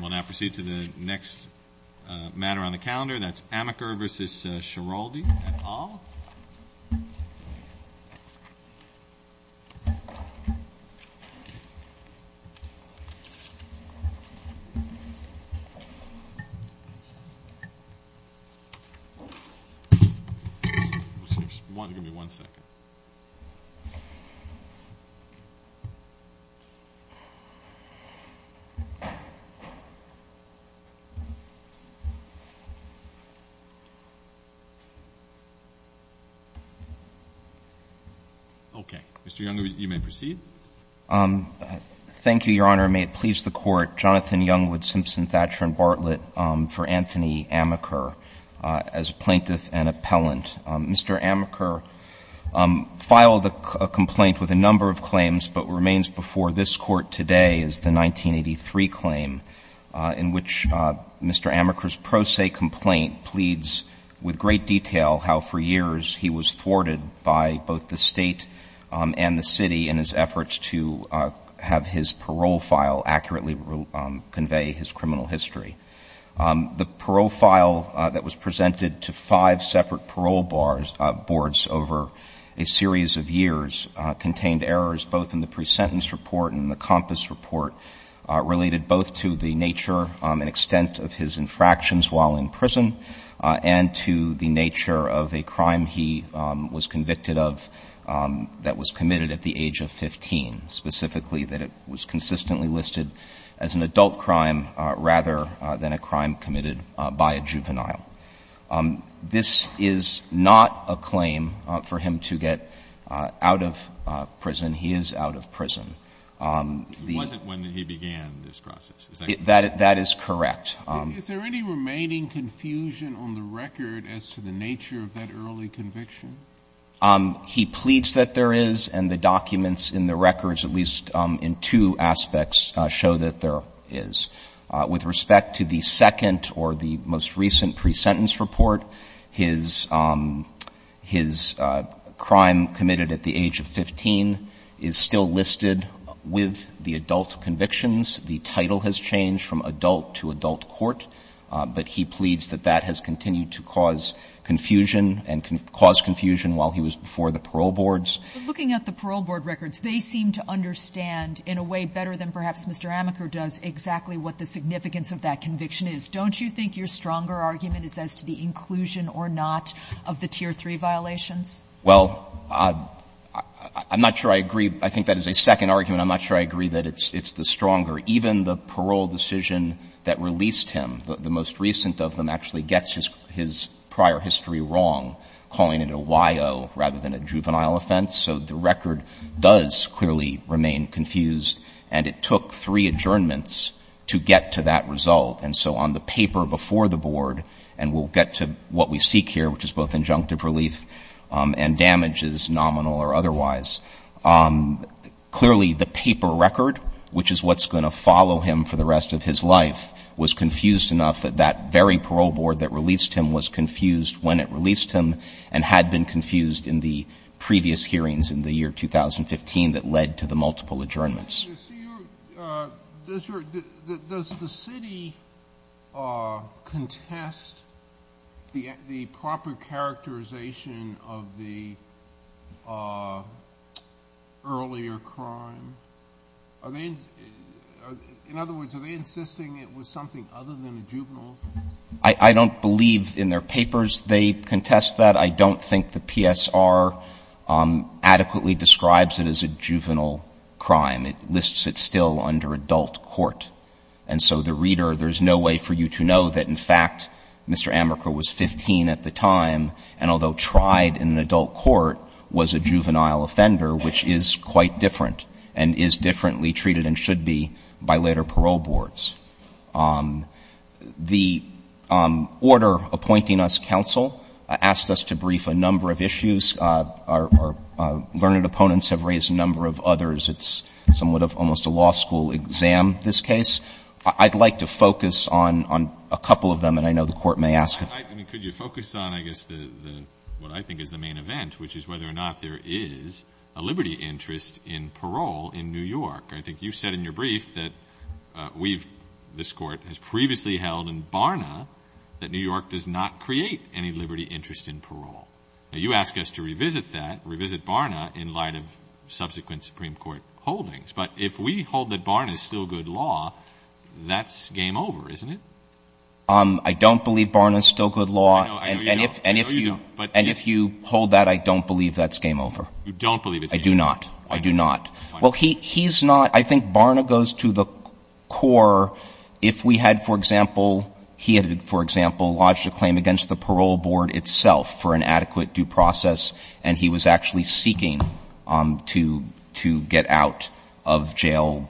We'll now proceed to the next matter on the calendar. That's Amaker v. Schiraldi et al. Mr. Youngwood, you may proceed. Thank you, Your Honor. May it please the Court, Jonathan Youngwood Simpson Thatcher and Bartlett v. Anthony Amaker as plaintiff and appellant. Mr. Amaker filed a complaint with a number of claims but remains before this Court today is the 1983 claim in which Mr. Amaker's pro se complaint pleads with great detail how for years he was thwarted by both the State and the City in his efforts to have his parole file accurately convey his criminal history. The parole file that was presented to five separate parole boards over a series of years contained errors both in the pre-sentence report and the compass report related both to the nature and extent of his infractions while in prison and to the nature of a crime he was convicted of that was committed at the age of 15, specifically that it was consistently listed as an adult crime rather than a crime committed by a juvenile. This is not a claim for him to get out of prison. He is out of prison. It wasn't when he began this process. Is that correct? That is correct. Is there any remaining confusion on the record as to the nature of that early conviction? He pleads that there is, and the documents in the records, at least in two aspects, show that there is. With respect to the second or the most recent pre-sentence report, his crime committed at the age of 15 is still listed with the adult convictions. The title has changed from adult to adult court, but he pleads that that has continued to cause confusion and cause confusion while he was before the parole boards. But looking at the parole board records, they seem to understand in a way better than perhaps Mr. Amaker does exactly what the significance of that conviction is. Don't you think your stronger argument is as to the inclusion or not of the tier 3 violations? Well, I'm not sure I agree. I think that is a second argument. I'm not sure I agree that it's the stronger. Even the parole decision that released him, the most recent of them, actually gets his prior history wrong, calling it a Y.O. rather than a juvenile offense. So the record does clearly remain confused, and it took three adjournments to get to that result. And so on the paper before the board, and we'll get to what we seek here, which is both injunctive relief and damages, nominal or otherwise, clearly the paper record, which is what's going to follow him for the rest of his life, was confused enough that that very parole board that released him was confused when it released him and had been through hearings in the year 2015 that led to the multiple adjournments. Does the city contest the proper characterization of the earlier crime? In other words, are they insisting it was something other than a juvenile offense? I don't believe in their papers they contest that. I don't think the PSR adequately describes it as a juvenile crime. It lists it still under adult court. And so the reader, there's no way for you to know that, in fact, Mr. Amaker was 15 at the time, and although tried in an adult court, was a juvenile offender, which is quite different and is differently treated and should be by later parole boards. The order appointing us counsel asked us to brief a number of issues. Our learned opponents have raised a number of others. It's somewhat of almost a law school exam, this case. I'd like to focus on a couple of them, and I know the Court may ask them. I mean, could you focus on, I guess, what I think is the main event, which is whether or not there is a liberty interest in parole in New York? I think you've said in your brief that we've, this Court, has previously held in Barna that New York does not create any liberty interest in parole. Now, you ask us to revisit that, revisit Barna, in light of subsequent Supreme Court holdings, but if we hold that Barna is still good law, that's game over, isn't it? I don't believe Barna is still good law. I know you don't. I know you don't. And if you hold that, I don't believe that's game over. You don't believe it's game over. I do not. I do not. Well, he's not. I think Barna goes to the core. If we had, for example, he had, for example, lodged a claim against the parole board itself for an adequate due process, and he was actually seeking to get out of jail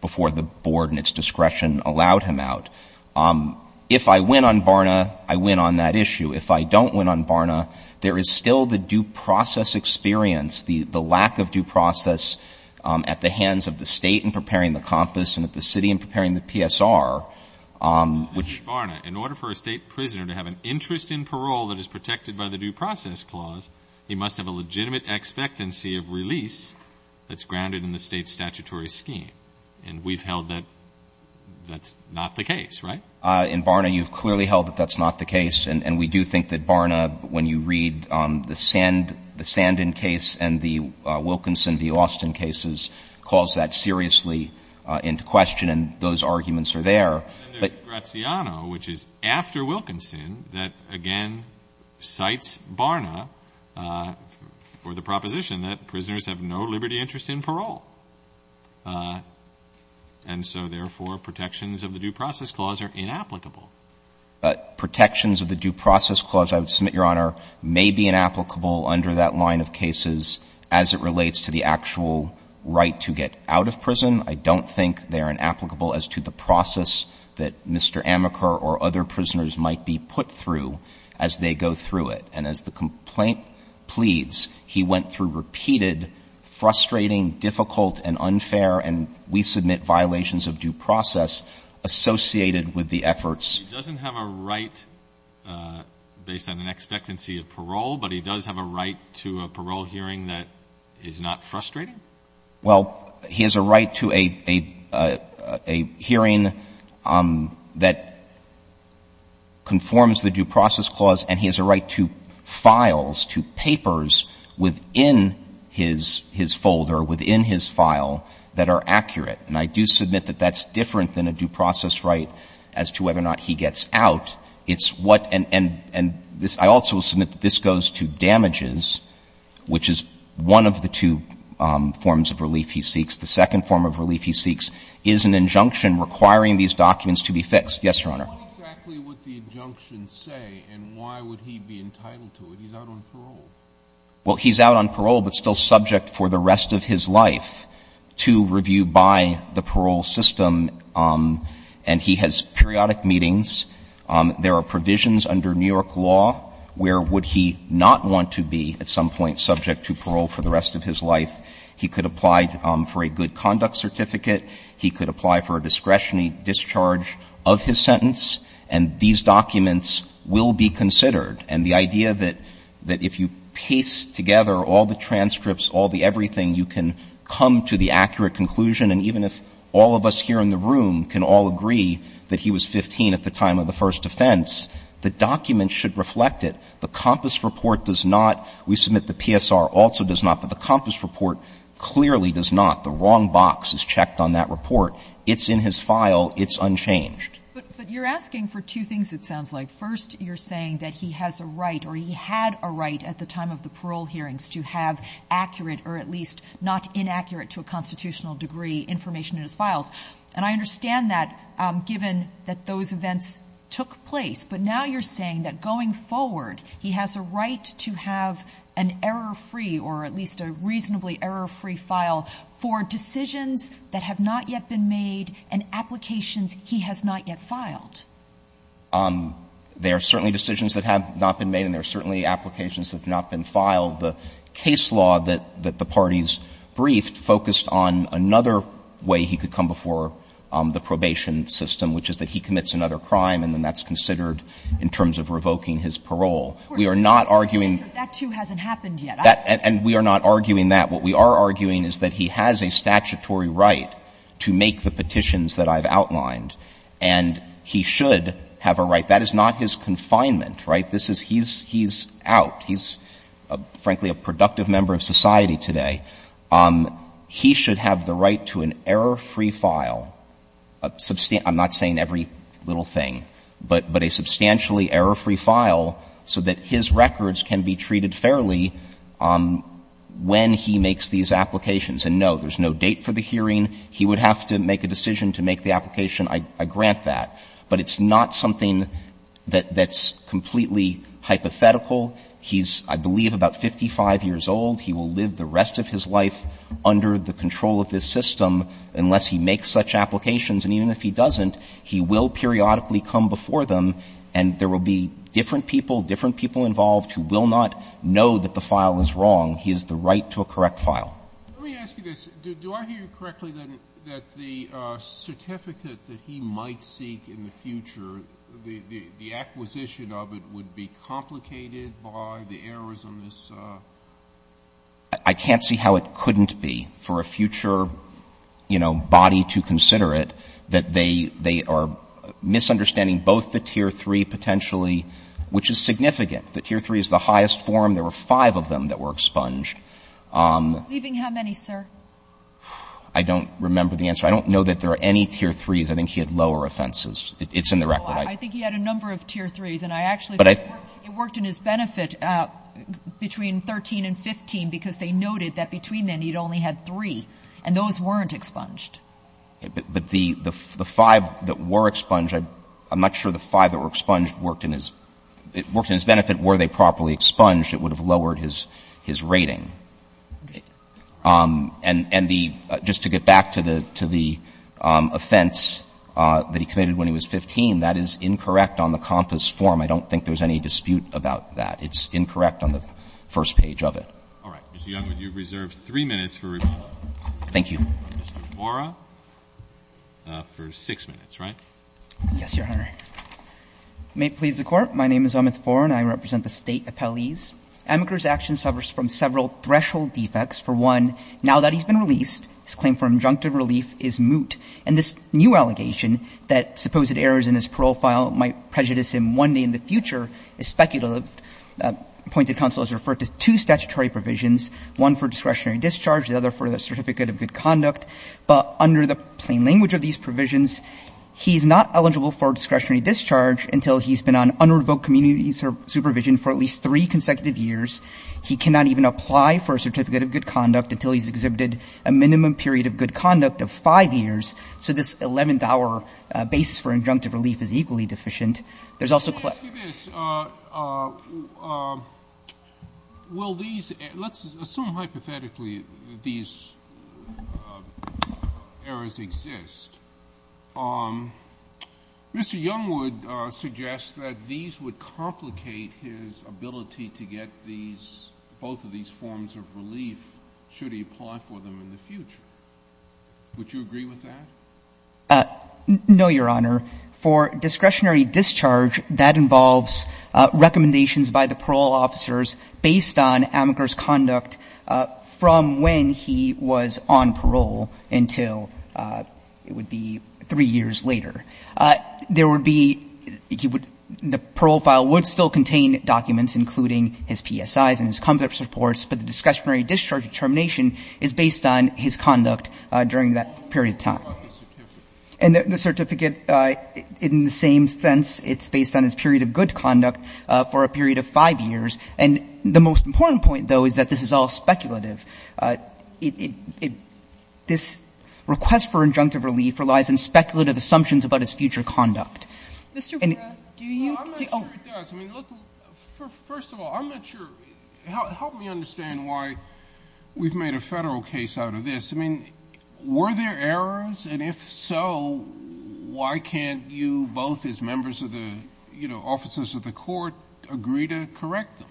before the board and its discretion allowed him out. If I win on Barna, I win on that issue. If I don't win on Barna, there is still the due process experience, the lack of due process at the hands of the State in preparing the compass and at the City in preparing the PSR. Mr. Barna, in order for a State prisoner to have an interest in parole that is protected by the due process clause, he must have a legitimate expectancy of release that's grounded in the State's statutory scheme. And we've held that that's not the case, right? In Barna, you've clearly held that that's not the case. And we do think that Barna, when you read the Sandin case and the Wilkinson v. Austin cases, calls that seriously into question, and those arguments are there. But there's Graziano, which is after Wilkinson, that, again, cites Barna for the proposition that prisoners have no liberty interest in parole. And so, therefore, protections of the due process clause are inapplicable. Protections of the due process clause, I would submit, Your Honor, may be inapplicable under that line of cases as it relates to the actual right to get out of prison. I don't think they are inapplicable as to the process that Mr. Amaker or other prisoners might be put through as they go through it. And as the complaint pleads, he went through repeated, frustrating, difficult and unfair, and we submit violations of due process associated with the efforts. He doesn't have a right based on an expectancy of parole, but he does have a right to a parole hearing that is not frustrating? Well, he has a right to a hearing that conforms the due process clause, and he has a right to files, to papers within his folder, within his file, that are accurate. And I do submit that that's different than a due process right as to whether or not he gets out. It's what — and I also submit that this goes to damages, which is one of the two forms of relief he seeks. The second form of relief he seeks is an injunction requiring these documents to be fixed. Yes, Your Honor. What exactly would the injunction say, and why would he be entitled to it? He's out on parole. Well, he's out on parole but still subject for the rest of his life to review by the parole system, and he has periodic meetings. There are provisions under New York law where would he not want to be at some point subject to parole for the rest of his life. He could apply for a good conduct certificate. He could apply for a discretionary discharge of his sentence, and these documents will be considered. And the idea that if you paste together all the transcripts, all the everything, you can come to the accurate conclusion, and even if all of us here in the room can all agree that he was 15 at the time of the first offense, the documents should reflect it. The COMPAS report does not. We submit the PSR also does not, but the COMPAS report clearly does not. The wrong box is checked on that report. It's in his file. It's unchanged. But you're asking for two things, it sounds like. First, you're saying that he has a right or he had a right at the time of the parole hearings to have accurate or at least not inaccurate to a constitutional degree information in his files. And I understand that given that those events took place, but now you're saying that going forward he has a right to have an error-free or at least a reasonably error-free file for decisions that have not yet been made and applications he has not yet filed. There are certainly decisions that have not been made and there are certainly applications that have not been filed. The case law that the parties briefed focused on another way he could come before the probation system, which is that he commits another crime and then that's considered in terms of revoking his parole. We are not arguing. That, too, hasn't happened yet. And we are not arguing that. What we are arguing is that he has a statutory right to make the petitions that I've outlined and he should have a right. That is not his confinement, right? This is he's out. He's, frankly, a productive member of society today. He should have the right to an error-free file. I'm not saying every little thing, but a substantially error-free file so that his application is revoked when he makes these applications. And, no, there's no date for the hearing. He would have to make a decision to make the application. I grant that. But it's not something that's completely hypothetical. He's, I believe, about 55 years old. He will live the rest of his life under the control of this system unless he makes such applications. And even if he doesn't, he will periodically come before them and there will be different people, different people involved who will not know that the file is wrong. He has the right to a correct file. Let me ask you this. Do I hear you correctly that the certificate that he might seek in the future, the acquisition of it would be complicated by the errors on this? I can't see how it couldn't be for a future, you know, body to consider it that they are misunderstanding both the Tier 3 potentially, which is significant. The Tier 3 is the highest form. There were five of them that were expunged. Leaving how many, sir? I don't remember the answer. I don't know that there are any Tier 3s. I think he had lower offenses. It's in the record. I think he had a number of Tier 3s, and I actually think it worked in his benefit between 13 and 15 because they noted that between then he'd only had three, and those weren't expunged. But the five that were expunged, I'm not sure the five that were expunged worked in his benefit. Were they properly expunged, it would have lowered his rating. And just to get back to the offense that he committed when he was 15, that is incorrect on the compass form. I don't think there's any dispute about that. It's incorrect on the first page of it. All right. Mr. Young, you have reserved three minutes for rebuttal. Thank you. Mr. Mora for six minutes, right? Yes, Your Honor. May it please the Court. My name is Amit Mora, and I represent the State Appellees. Amaker's action suffers from several threshold defects. For one, now that he's been released, his claim for injunctive relief is moot. And this new allegation that supposed errors in his parole file might prejudice him one day in the future is speculative. Appointed counsel has referred to two statutory provisions, one for discretionary discharge, the other for the certificate of good conduct. But under the plain language of these provisions, he's not eligible for discretionary discharge until he's been on unprovoked community supervision for at least three consecutive years. He cannot even apply for a certificate of good conduct until he's exhibited a minimum period of good conduct of five years. So this 11th-hour basis for injunctive relief is equally deficient. There's also clear Let me ask you this. Will these Let's assume hypothetically these errors exist. Mr. Youngwood suggests that these would complicate his ability to get these, both of these forms of relief should he apply for them in the future. Would you agree with that? No, Your Honor. For discretionary discharge, that involves recommendations by the parole officers based on Amaker's conduct from when he was on parole until it would be three years later. There would be the parole file would still contain documents, including his PSIs and his conduct reports. But the discretionary discharge determination is based on his conduct during that period of time. What about the certificate? And the certificate, in the same sense, it's based on his period of good conduct for a period of five years. And the most important point, though, is that this is all speculative. This request for injunctive relief relies on speculative assumptions about his future conduct. Mr. Verra, do you No, I'm not sure it does. I mean, look, first of all, I'm not sure Help me understand why we've made a Federal case out of this. I mean, were there errors? And if so, why can't you both, as members of the, you know, officers of the court, agree to correct them?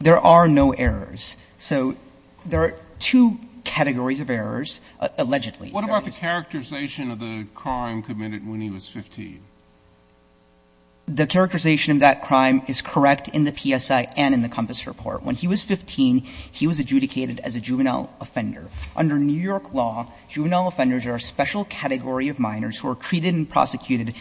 There are no errors. So there are two categories of errors, allegedly. What about the characterization of the crime committed when he was 15? The characterization of that crime is correct in the PSI and in the Compass report. When he was 15, he was adjudicated as a juvenile offender. Under New York law, juvenile offenders are a special category of minors who are treated and prosecuted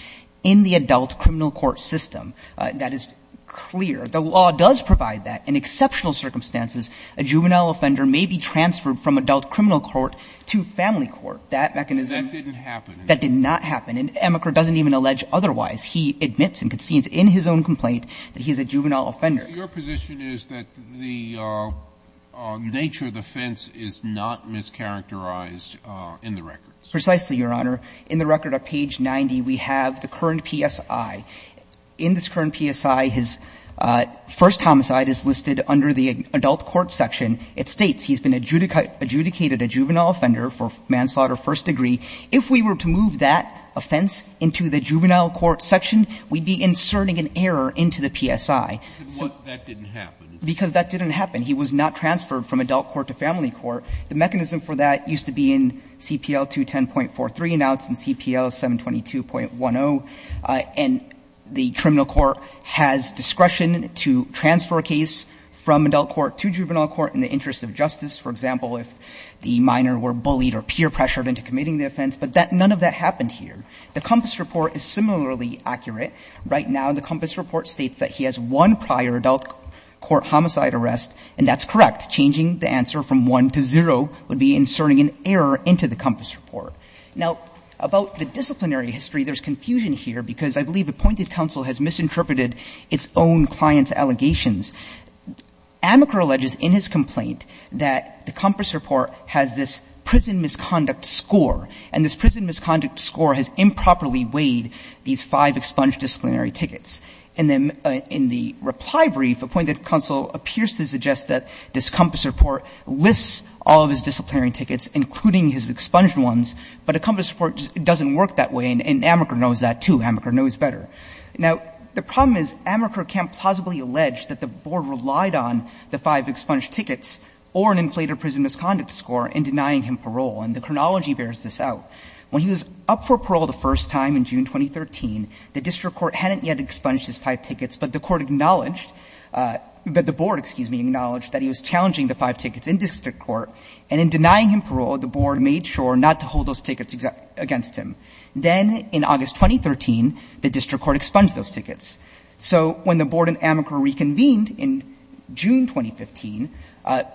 in the adult criminal court system. That is clear. The law does provide that. In exceptional circumstances, a juvenile offender may be transferred from adult criminal court to family court. That mechanism That didn't happen. That did not happen. And Emeker doesn't even allege otherwise. He admits and concedes in his own complaint that he's a juvenile offender. Your position is that the nature of the offense is not mischaracterized in the records. Precisely, Your Honor. In the record at page 90, we have the current PSI. In this current PSI, his first homicide is listed under the adult court section. It states he's been adjudicated a juvenile offender for manslaughter, first degree. If we were to move that offense into the juvenile court section, we'd be inserting an error into the PSI. That didn't happen. Because that didn't happen. He was not transferred from adult court to family court. The mechanism for that used to be in CPL 210.43. Now it's in CPL 722.10. And the criminal court has discretion to transfer a case from adult court to juvenile court in the interest of justice, for example, if the minor were bullied or peer pressured into committing the offense. But none of that happened here. The COMPAS report is similarly accurate. Right now, the COMPAS report states that he has one prior adult court homicide arrest. And that's correct. Changing the answer from one to zero would be inserting an error into the COMPAS report. Now, about the disciplinary history, there's confusion here. Because I believe appointed counsel has misinterpreted its own client's allegations. Amaker alleges in his complaint that the COMPAS report has this prison misconduct score. And this prison misconduct score has improperly weighed these five expunged disciplinary tickets. And then in the reply brief, appointed counsel appears to suggest that this COMPAS report lists all of his disciplinary tickets, including his expunged ones, but a COMPAS report doesn't work that way. And Amaker knows that, too. Amaker knows better. Now, the problem is Amaker can't plausibly allege that the board relied on the five expunged tickets or an inflated prison misconduct score in denying him parole. And the chronology bears this out. When he was up for parole the first time in June 2013, the district court hadn't yet expunged his five tickets. But the court acknowledged, but the board, excuse me, acknowledged that he was challenging the five tickets in district court. And in denying him parole, the board made sure not to hold those tickets against him. Then in August 2013, the district court expunged those tickets. So when the board and Amaker reconvened in June 2015,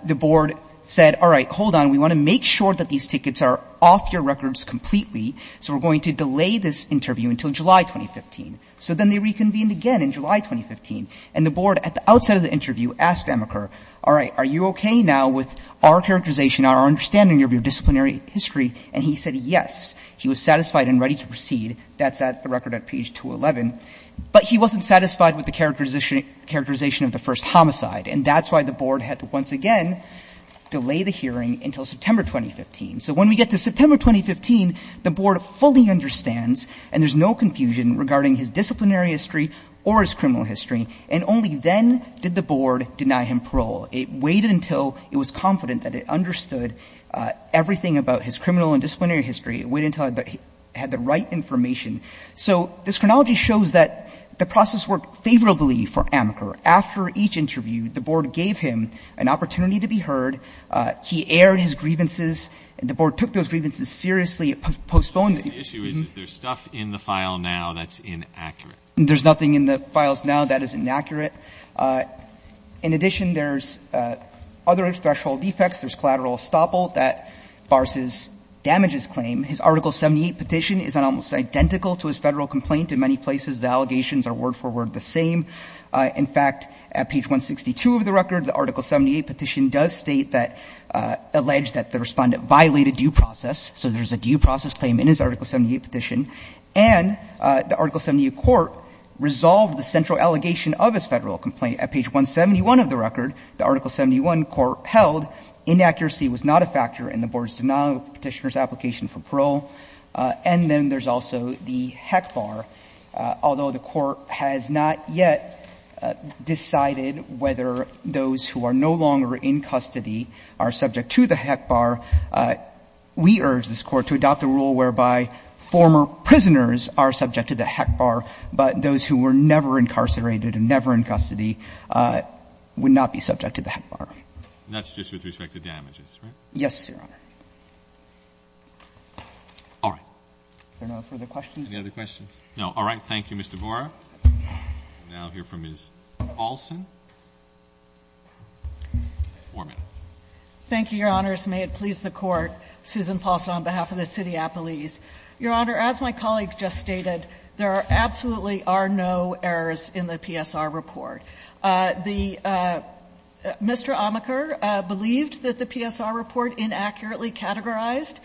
the board said, all right, hold on, we want to make sure that these tickets are off your records completely. So we're going to delay this interview until July 2015. So then they reconvened again in July 2015. And the board, at the outset of the interview, asked Amaker, all right, are you okay now with our characterization, our understanding of your disciplinary history? And he said yes. He was satisfied and ready to proceed. That's at the record at page 211. But he wasn't satisfied with the characterization of the first homicide. And that's why the board had to once again delay the hearing until September 2015. So when we get to September 2015, the board fully understands, and there's no confusion regarding his disciplinary history or his criminal history. And only then did the board deny him parole. It waited until it was confident that it understood everything about his criminal and disciplinary history. It waited until it had the right information. So this chronology shows that the process worked favorably for Amaker. After each interview, the board gave him an opportunity to be heard. He aired his grievances. The board took those grievances seriously. It postponed it. The issue is, is there stuff in the file now that's inaccurate? There's nothing in the files now that is inaccurate. In addition, there's other threshold defects. There's collateral estoppel that bars his damages claim. His Article 78 petition is almost identical to his Federal complaint. In many places, the allegations are word for word the same. In fact, at page 162 of the record, the Article 78 petition does state that alleged that the Respondent violated due process. So there's a due process claim in his Article 78 petition. And the Article 78 court resolved the central allegation of his Federal complaint. At page 171 of the record, the Article 71 court held inaccuracy was not a factor in the board's denial of the Petitioner's application for parole. And then there's also the HECBAR. Although the Court has not yet decided whether those who are no longer in custody are subject to the HECBAR, we urge this Court to adopt a rule whereby former prisoners are subject to the HECBAR, but those who were never incarcerated and never in custody would not be subject to the HECBAR. And that's just with respect to damages, right? Yes, Your Honor. All right. Are there no further questions? Any other questions? No. All right. Thank you, Mr. Borah. We'll now hear from Ms. Paulson. Four minutes. Thank you, Your Honors. May it please the Court. Susan Paulson on behalf of the city of Appalachia. Your Honor, as my colleague just stated, there absolutely are no errors in the PSR report. The Mr. Amaker believed that the PSR report inaccurately categorized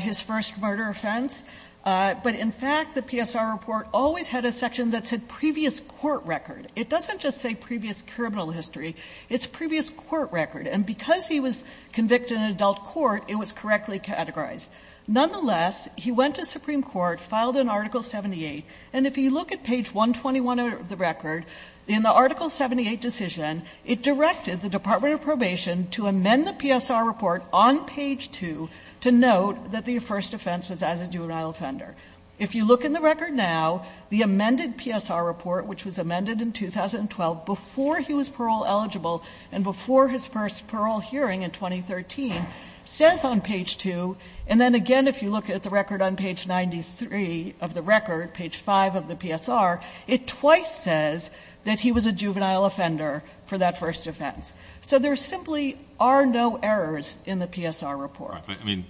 his first murder offense, but in fact, the PSR report always had a section that said previous court record. It doesn't just say previous criminal history. It's previous court record. And because he was convicted in adult court, it was correctly categorized. Nonetheless, he went to Supreme Court, filed an Article 78, and if you look at page 121 of the record, in the Article 78 decision, it directed the Department of Probation to amend the PSR report on page 2 to note that the first offense was as a juvenile offender. If you look in the record now, the amended PSR report, which was amended in 2012 before he was parole eligible and before his first parole hearing in 2013, says on page 2. And then again, if you look at the record on page 93 of the record, page 5 of the PSR, it twice says that he was a juvenile offender for that first offense. So there simply are no errors in the PSR report. But, I mean,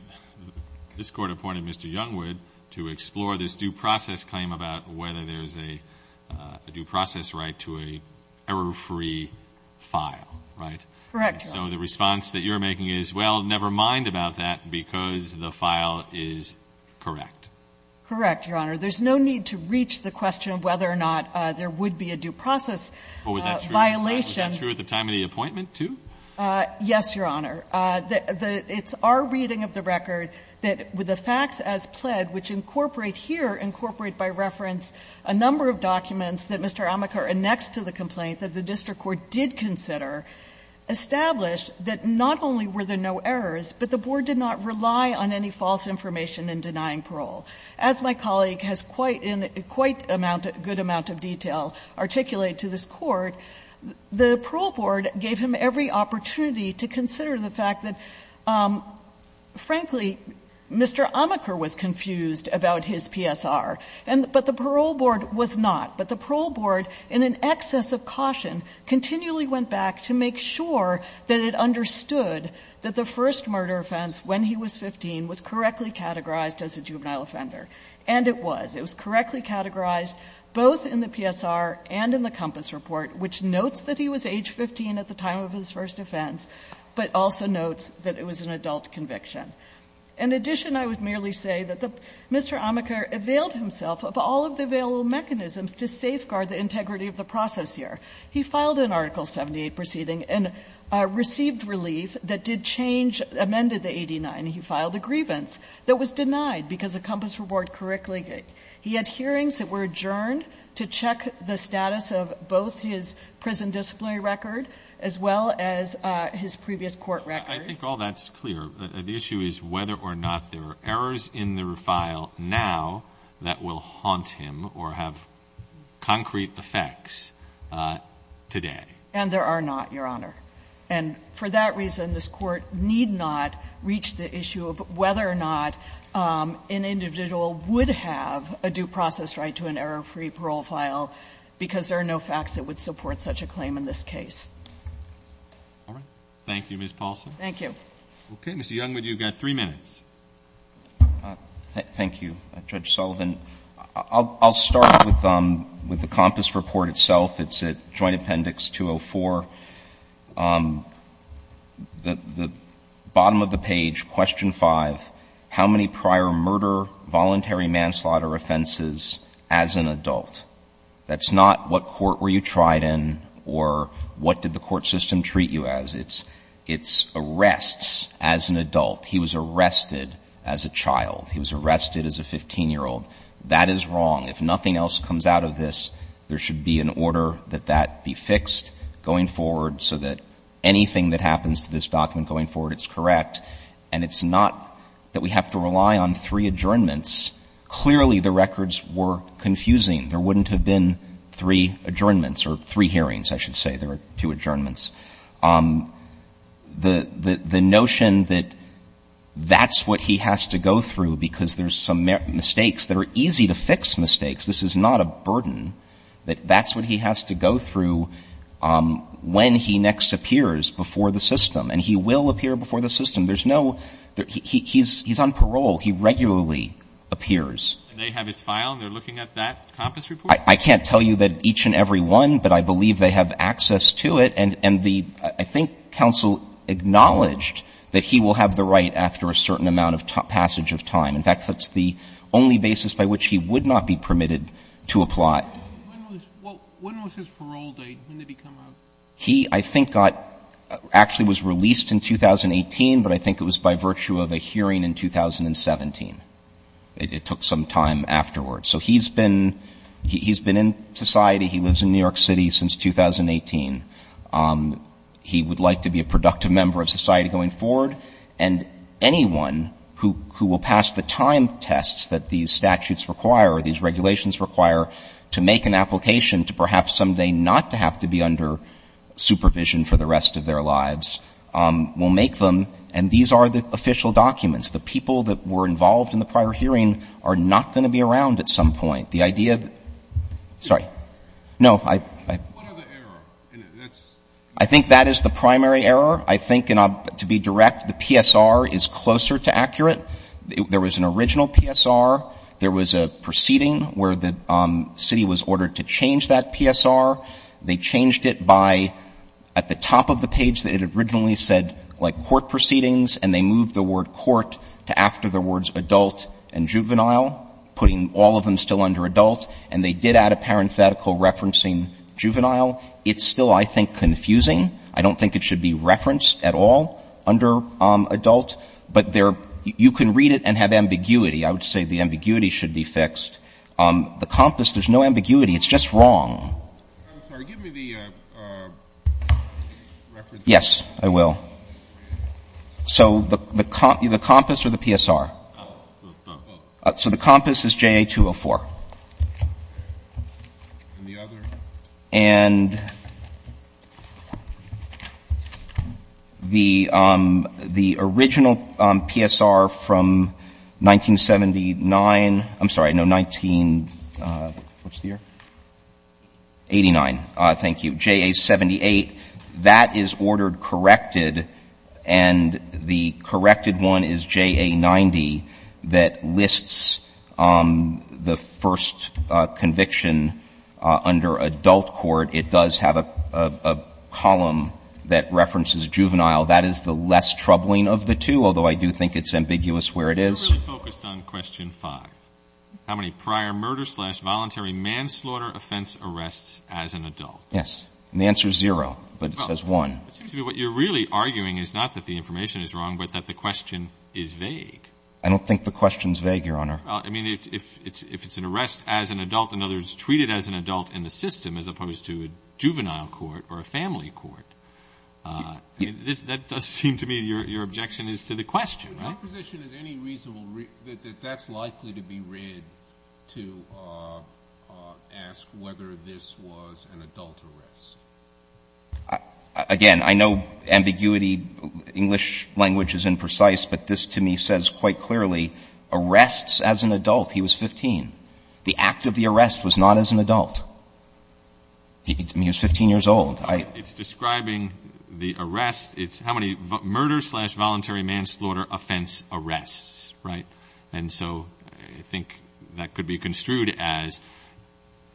this Court appointed Mr. Youngwood to explore this due process claim about whether there's a due process right to an error-free file, right? Correct, Your Honor. So the response that you're making is, well, never mind about that because the file is correct. Correct, Your Honor. There's no need to reach the question of whether or not there would be a due process violation. Was that true at the time of the appointment, too? Yes, Your Honor. It's our reading of the record that with the facts as pled, which incorporate here, incorporate by reference a number of documents that Mr. Amakar annexed to the complaint that the district court did consider, established that not only were there no errors, but the board did not rely on any false information in denying parole. As my colleague has quite a good amount of detail articulated to this Court, the parole board gave him every opportunity to consider the fact that, frankly, Mr. Amakar was confused about his PSR, but the parole board was not. But the parole board, in an excess of caution, continually went back to make sure that it understood that the first murder offense when he was 15 was correctly categorized as a juvenile offender. And it was. It was correctly categorized both in the PSR and in the Compass Report, which notes that he was age 15 at the time of his first offense, but also notes that it was an adult conviction. In addition, I would merely say that Mr. Amakar availed himself of all of the available mechanisms to safeguard the integrity of the process here. He filed an Article 78 proceeding and received relief that did change, amended the 89. He filed a grievance that was denied because of Compass Report correctly. He had hearings that were adjourned to check the status of both his prison disciplinary record as well as his previous court record. I think all that's clear. The issue is whether or not there are errors in the refile now that will haunt him or have concrete effects today. And there are not, Your Honor. And for that reason, this Court need not reach the issue of whether or not an individual would have a due process right to an error-free parole file because there are no facts that would support such a claim in this case. Roberts. Thank you, Ms. Paulson. Thank you. Okay. Mr. Youngwood, you've got three minutes. Thank you, Judge Sullivan. I'll start with the Compass Report itself. It's at Joint Appendix 204. The bottom of the page, Question 5, how many prior murder, voluntary manslaughter offenses as an adult? That's not what court were you tried in or what did the court system treat you as. It's arrests as an adult. He was arrested as a child. He was arrested as a 15-year-old. That is wrong. If nothing else comes out of this, there should be an order that that be fixed going forward so that anything that happens to this document going forward is correct. And it's not that we have to rely on three adjournments. Clearly, the records were confusing. There wouldn't have been three adjournments or three hearings, I should say. There are two adjournments. The notion that that's what he has to go through because there's some mistakes that are easy to fix mistakes. This is not a burden. That's what he has to go through when he next appears before the system. And he will appear before the system. There's no he's on parole. He regularly appears. And they have his file and they're looking at that Compass Report? I can't tell you that each and every one, but I believe they have access to it. And the I think counsel acknowledged that he will have the right after a certain amount of passage of time. In fact, that's the only basis by which he would not be permitted to apply. When was his parole date? When did he come out? He, I think, got actually was released in 2018, but I think it was by virtue of a hearing in 2017. It took some time afterwards. So he's been he's been in society. He lives in New York City since 2018. He would like to be a productive member of society going forward. And anyone who who will pass the time tests that these statutes require or these regulations require to make an application to perhaps someday not to have to be under supervision for the rest of their lives will make them. And these are the official documents. The people that were involved in the prior hearing are not going to be around at some point. The idea of sorry. No, I I think that is the primary error. I think to be direct, the PSR is closer to accurate. There was an original PSR. There was a proceeding where the city was ordered to change that PSR. They changed it by at the top of the page that it originally said like court proceedings, and they moved the word court to after the words adult and juvenile, putting all of them still under adult. And they did add a parenthetical referencing juvenile. It's still, I think, confusing. I don't think it should be referenced at all under adult, but you can read it and have ambiguity. I would say the ambiguity should be fixed. The compass, there's no ambiguity. It's just wrong. I'm sorry. Give me the reference. Yes, I will. So the compass or the PSR? Both. So the compass is JA204. And the other? And the original PSR from 1979, I'm sorry, no, 1989. Thank you. JA78, that is ordered corrected, and the corrected one is JA90 that lists the first conviction under adult court. It does have a column that references juvenile. That is the less troubling of the two, although I do think it's ambiguous where it is. You're really focused on question five, how many prior murder-slash-voluntary manslaughter offense arrests as an adult. Yes. And the answer is zero, but it says one. It seems to me what you're really arguing is not that the information is wrong, but that the question is vague. I don't think the question is vague, Your Honor. I mean, if it's an arrest as an adult, in other words, treated as an adult in the system as opposed to a juvenile court or a family court, that does seem to me your objection is to the question, right? My position is any reason that that's likely to be read to ask whether this was an adult arrest. Again, I know ambiguity, English language is imprecise, but this to me says quite clearly arrests as an adult. He was 15. The act of the arrest was not as an adult. I mean, he was 15 years old. It's describing the arrest. It's how many murder-slash-voluntary manslaughter offense arrests, right? And so I think that could be construed as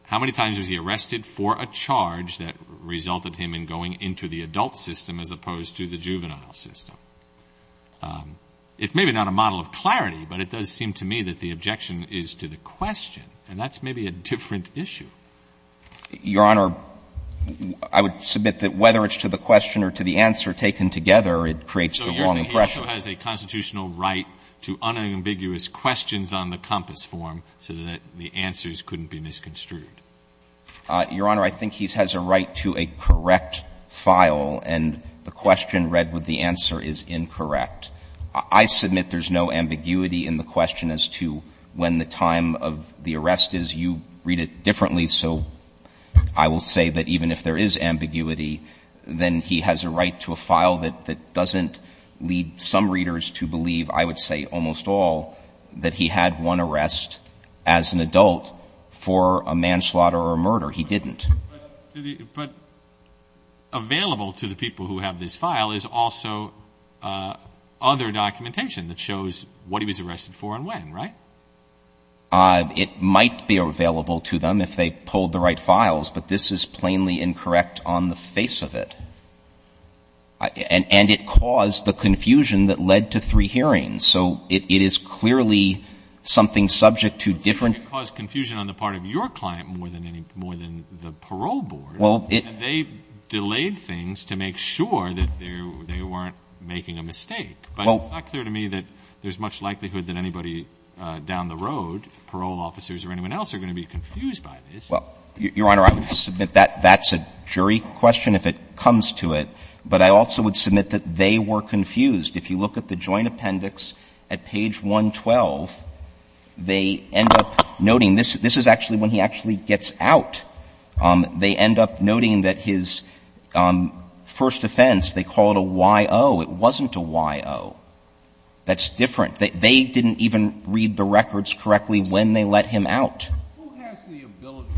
how many times was he arrested for a charge that resulted him in going into the adult system as opposed to the juvenile system? It's maybe not a model of clarity, but it does seem to me that the objection is to the question, and that's maybe a different issue. Your Honor, I would submit that whether it's to the question or to the answer taken together, it creates the wrong impression. So you're saying he also has a constitutional right to unambiguous questions on the compass form so that the answers couldn't be misconstrued? Your Honor, I think he has a right to a correct file, and the question read with the answer is incorrect. I submit there's no ambiguity in the question as to when the time of the arrest is. You read it differently, so I will say that even if there is ambiguity, then he has a right to a file that doesn't lead some readers to believe, I would say almost all, that he had one arrest as an adult for a manslaughter or a murder. He didn't. But available to the people who have this file is also other documentation that shows what he was arrested for and when, right? It might be available to them if they pulled the right files, but this is plainly incorrect on the face of it. And it caused the confusion that led to three hearings. So it is clearly something subject to different I think it caused confusion on the part of your client more than the parole board. They delayed things to make sure that they weren't making a mistake. But it's not clear to me that there's much likelihood that anybody down the road, parole officers or anyone else, are going to be confused by this. Your Honor, I would submit that's a jury question if it comes to it. But I also would submit that they were confused. If you look at the joint appendix at page 112, they end up noting this. This is actually when he actually gets out. They end up noting that his first offense, they call it a Y.O. It wasn't a Y.O. That's different. They didn't even read the records correctly when they let him out. Who has the ability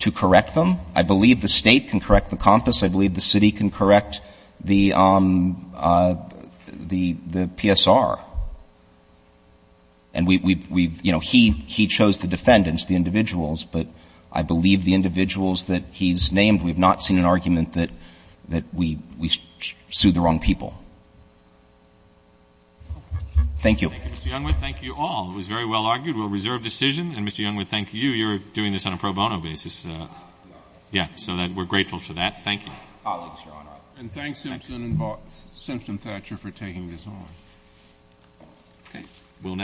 to correct them? To correct them? I believe the state can correct the compass. I believe the city can correct the PSR. And we've, you know, he chose the defendants, the individuals. But I believe the individuals that he's named, we have not seen an argument that we sued the wrong people. Thank you. Thank you, Mr. Youngwood. Thank you all. It was very well argued. We'll reserve decision. And, Mr. Youngwood, thank you. You're doing this on a pro bono basis. Yeah. Yeah. So we're grateful for that. Thank you. And thanks, Simpson and Thatcher, for taking this on. Okay.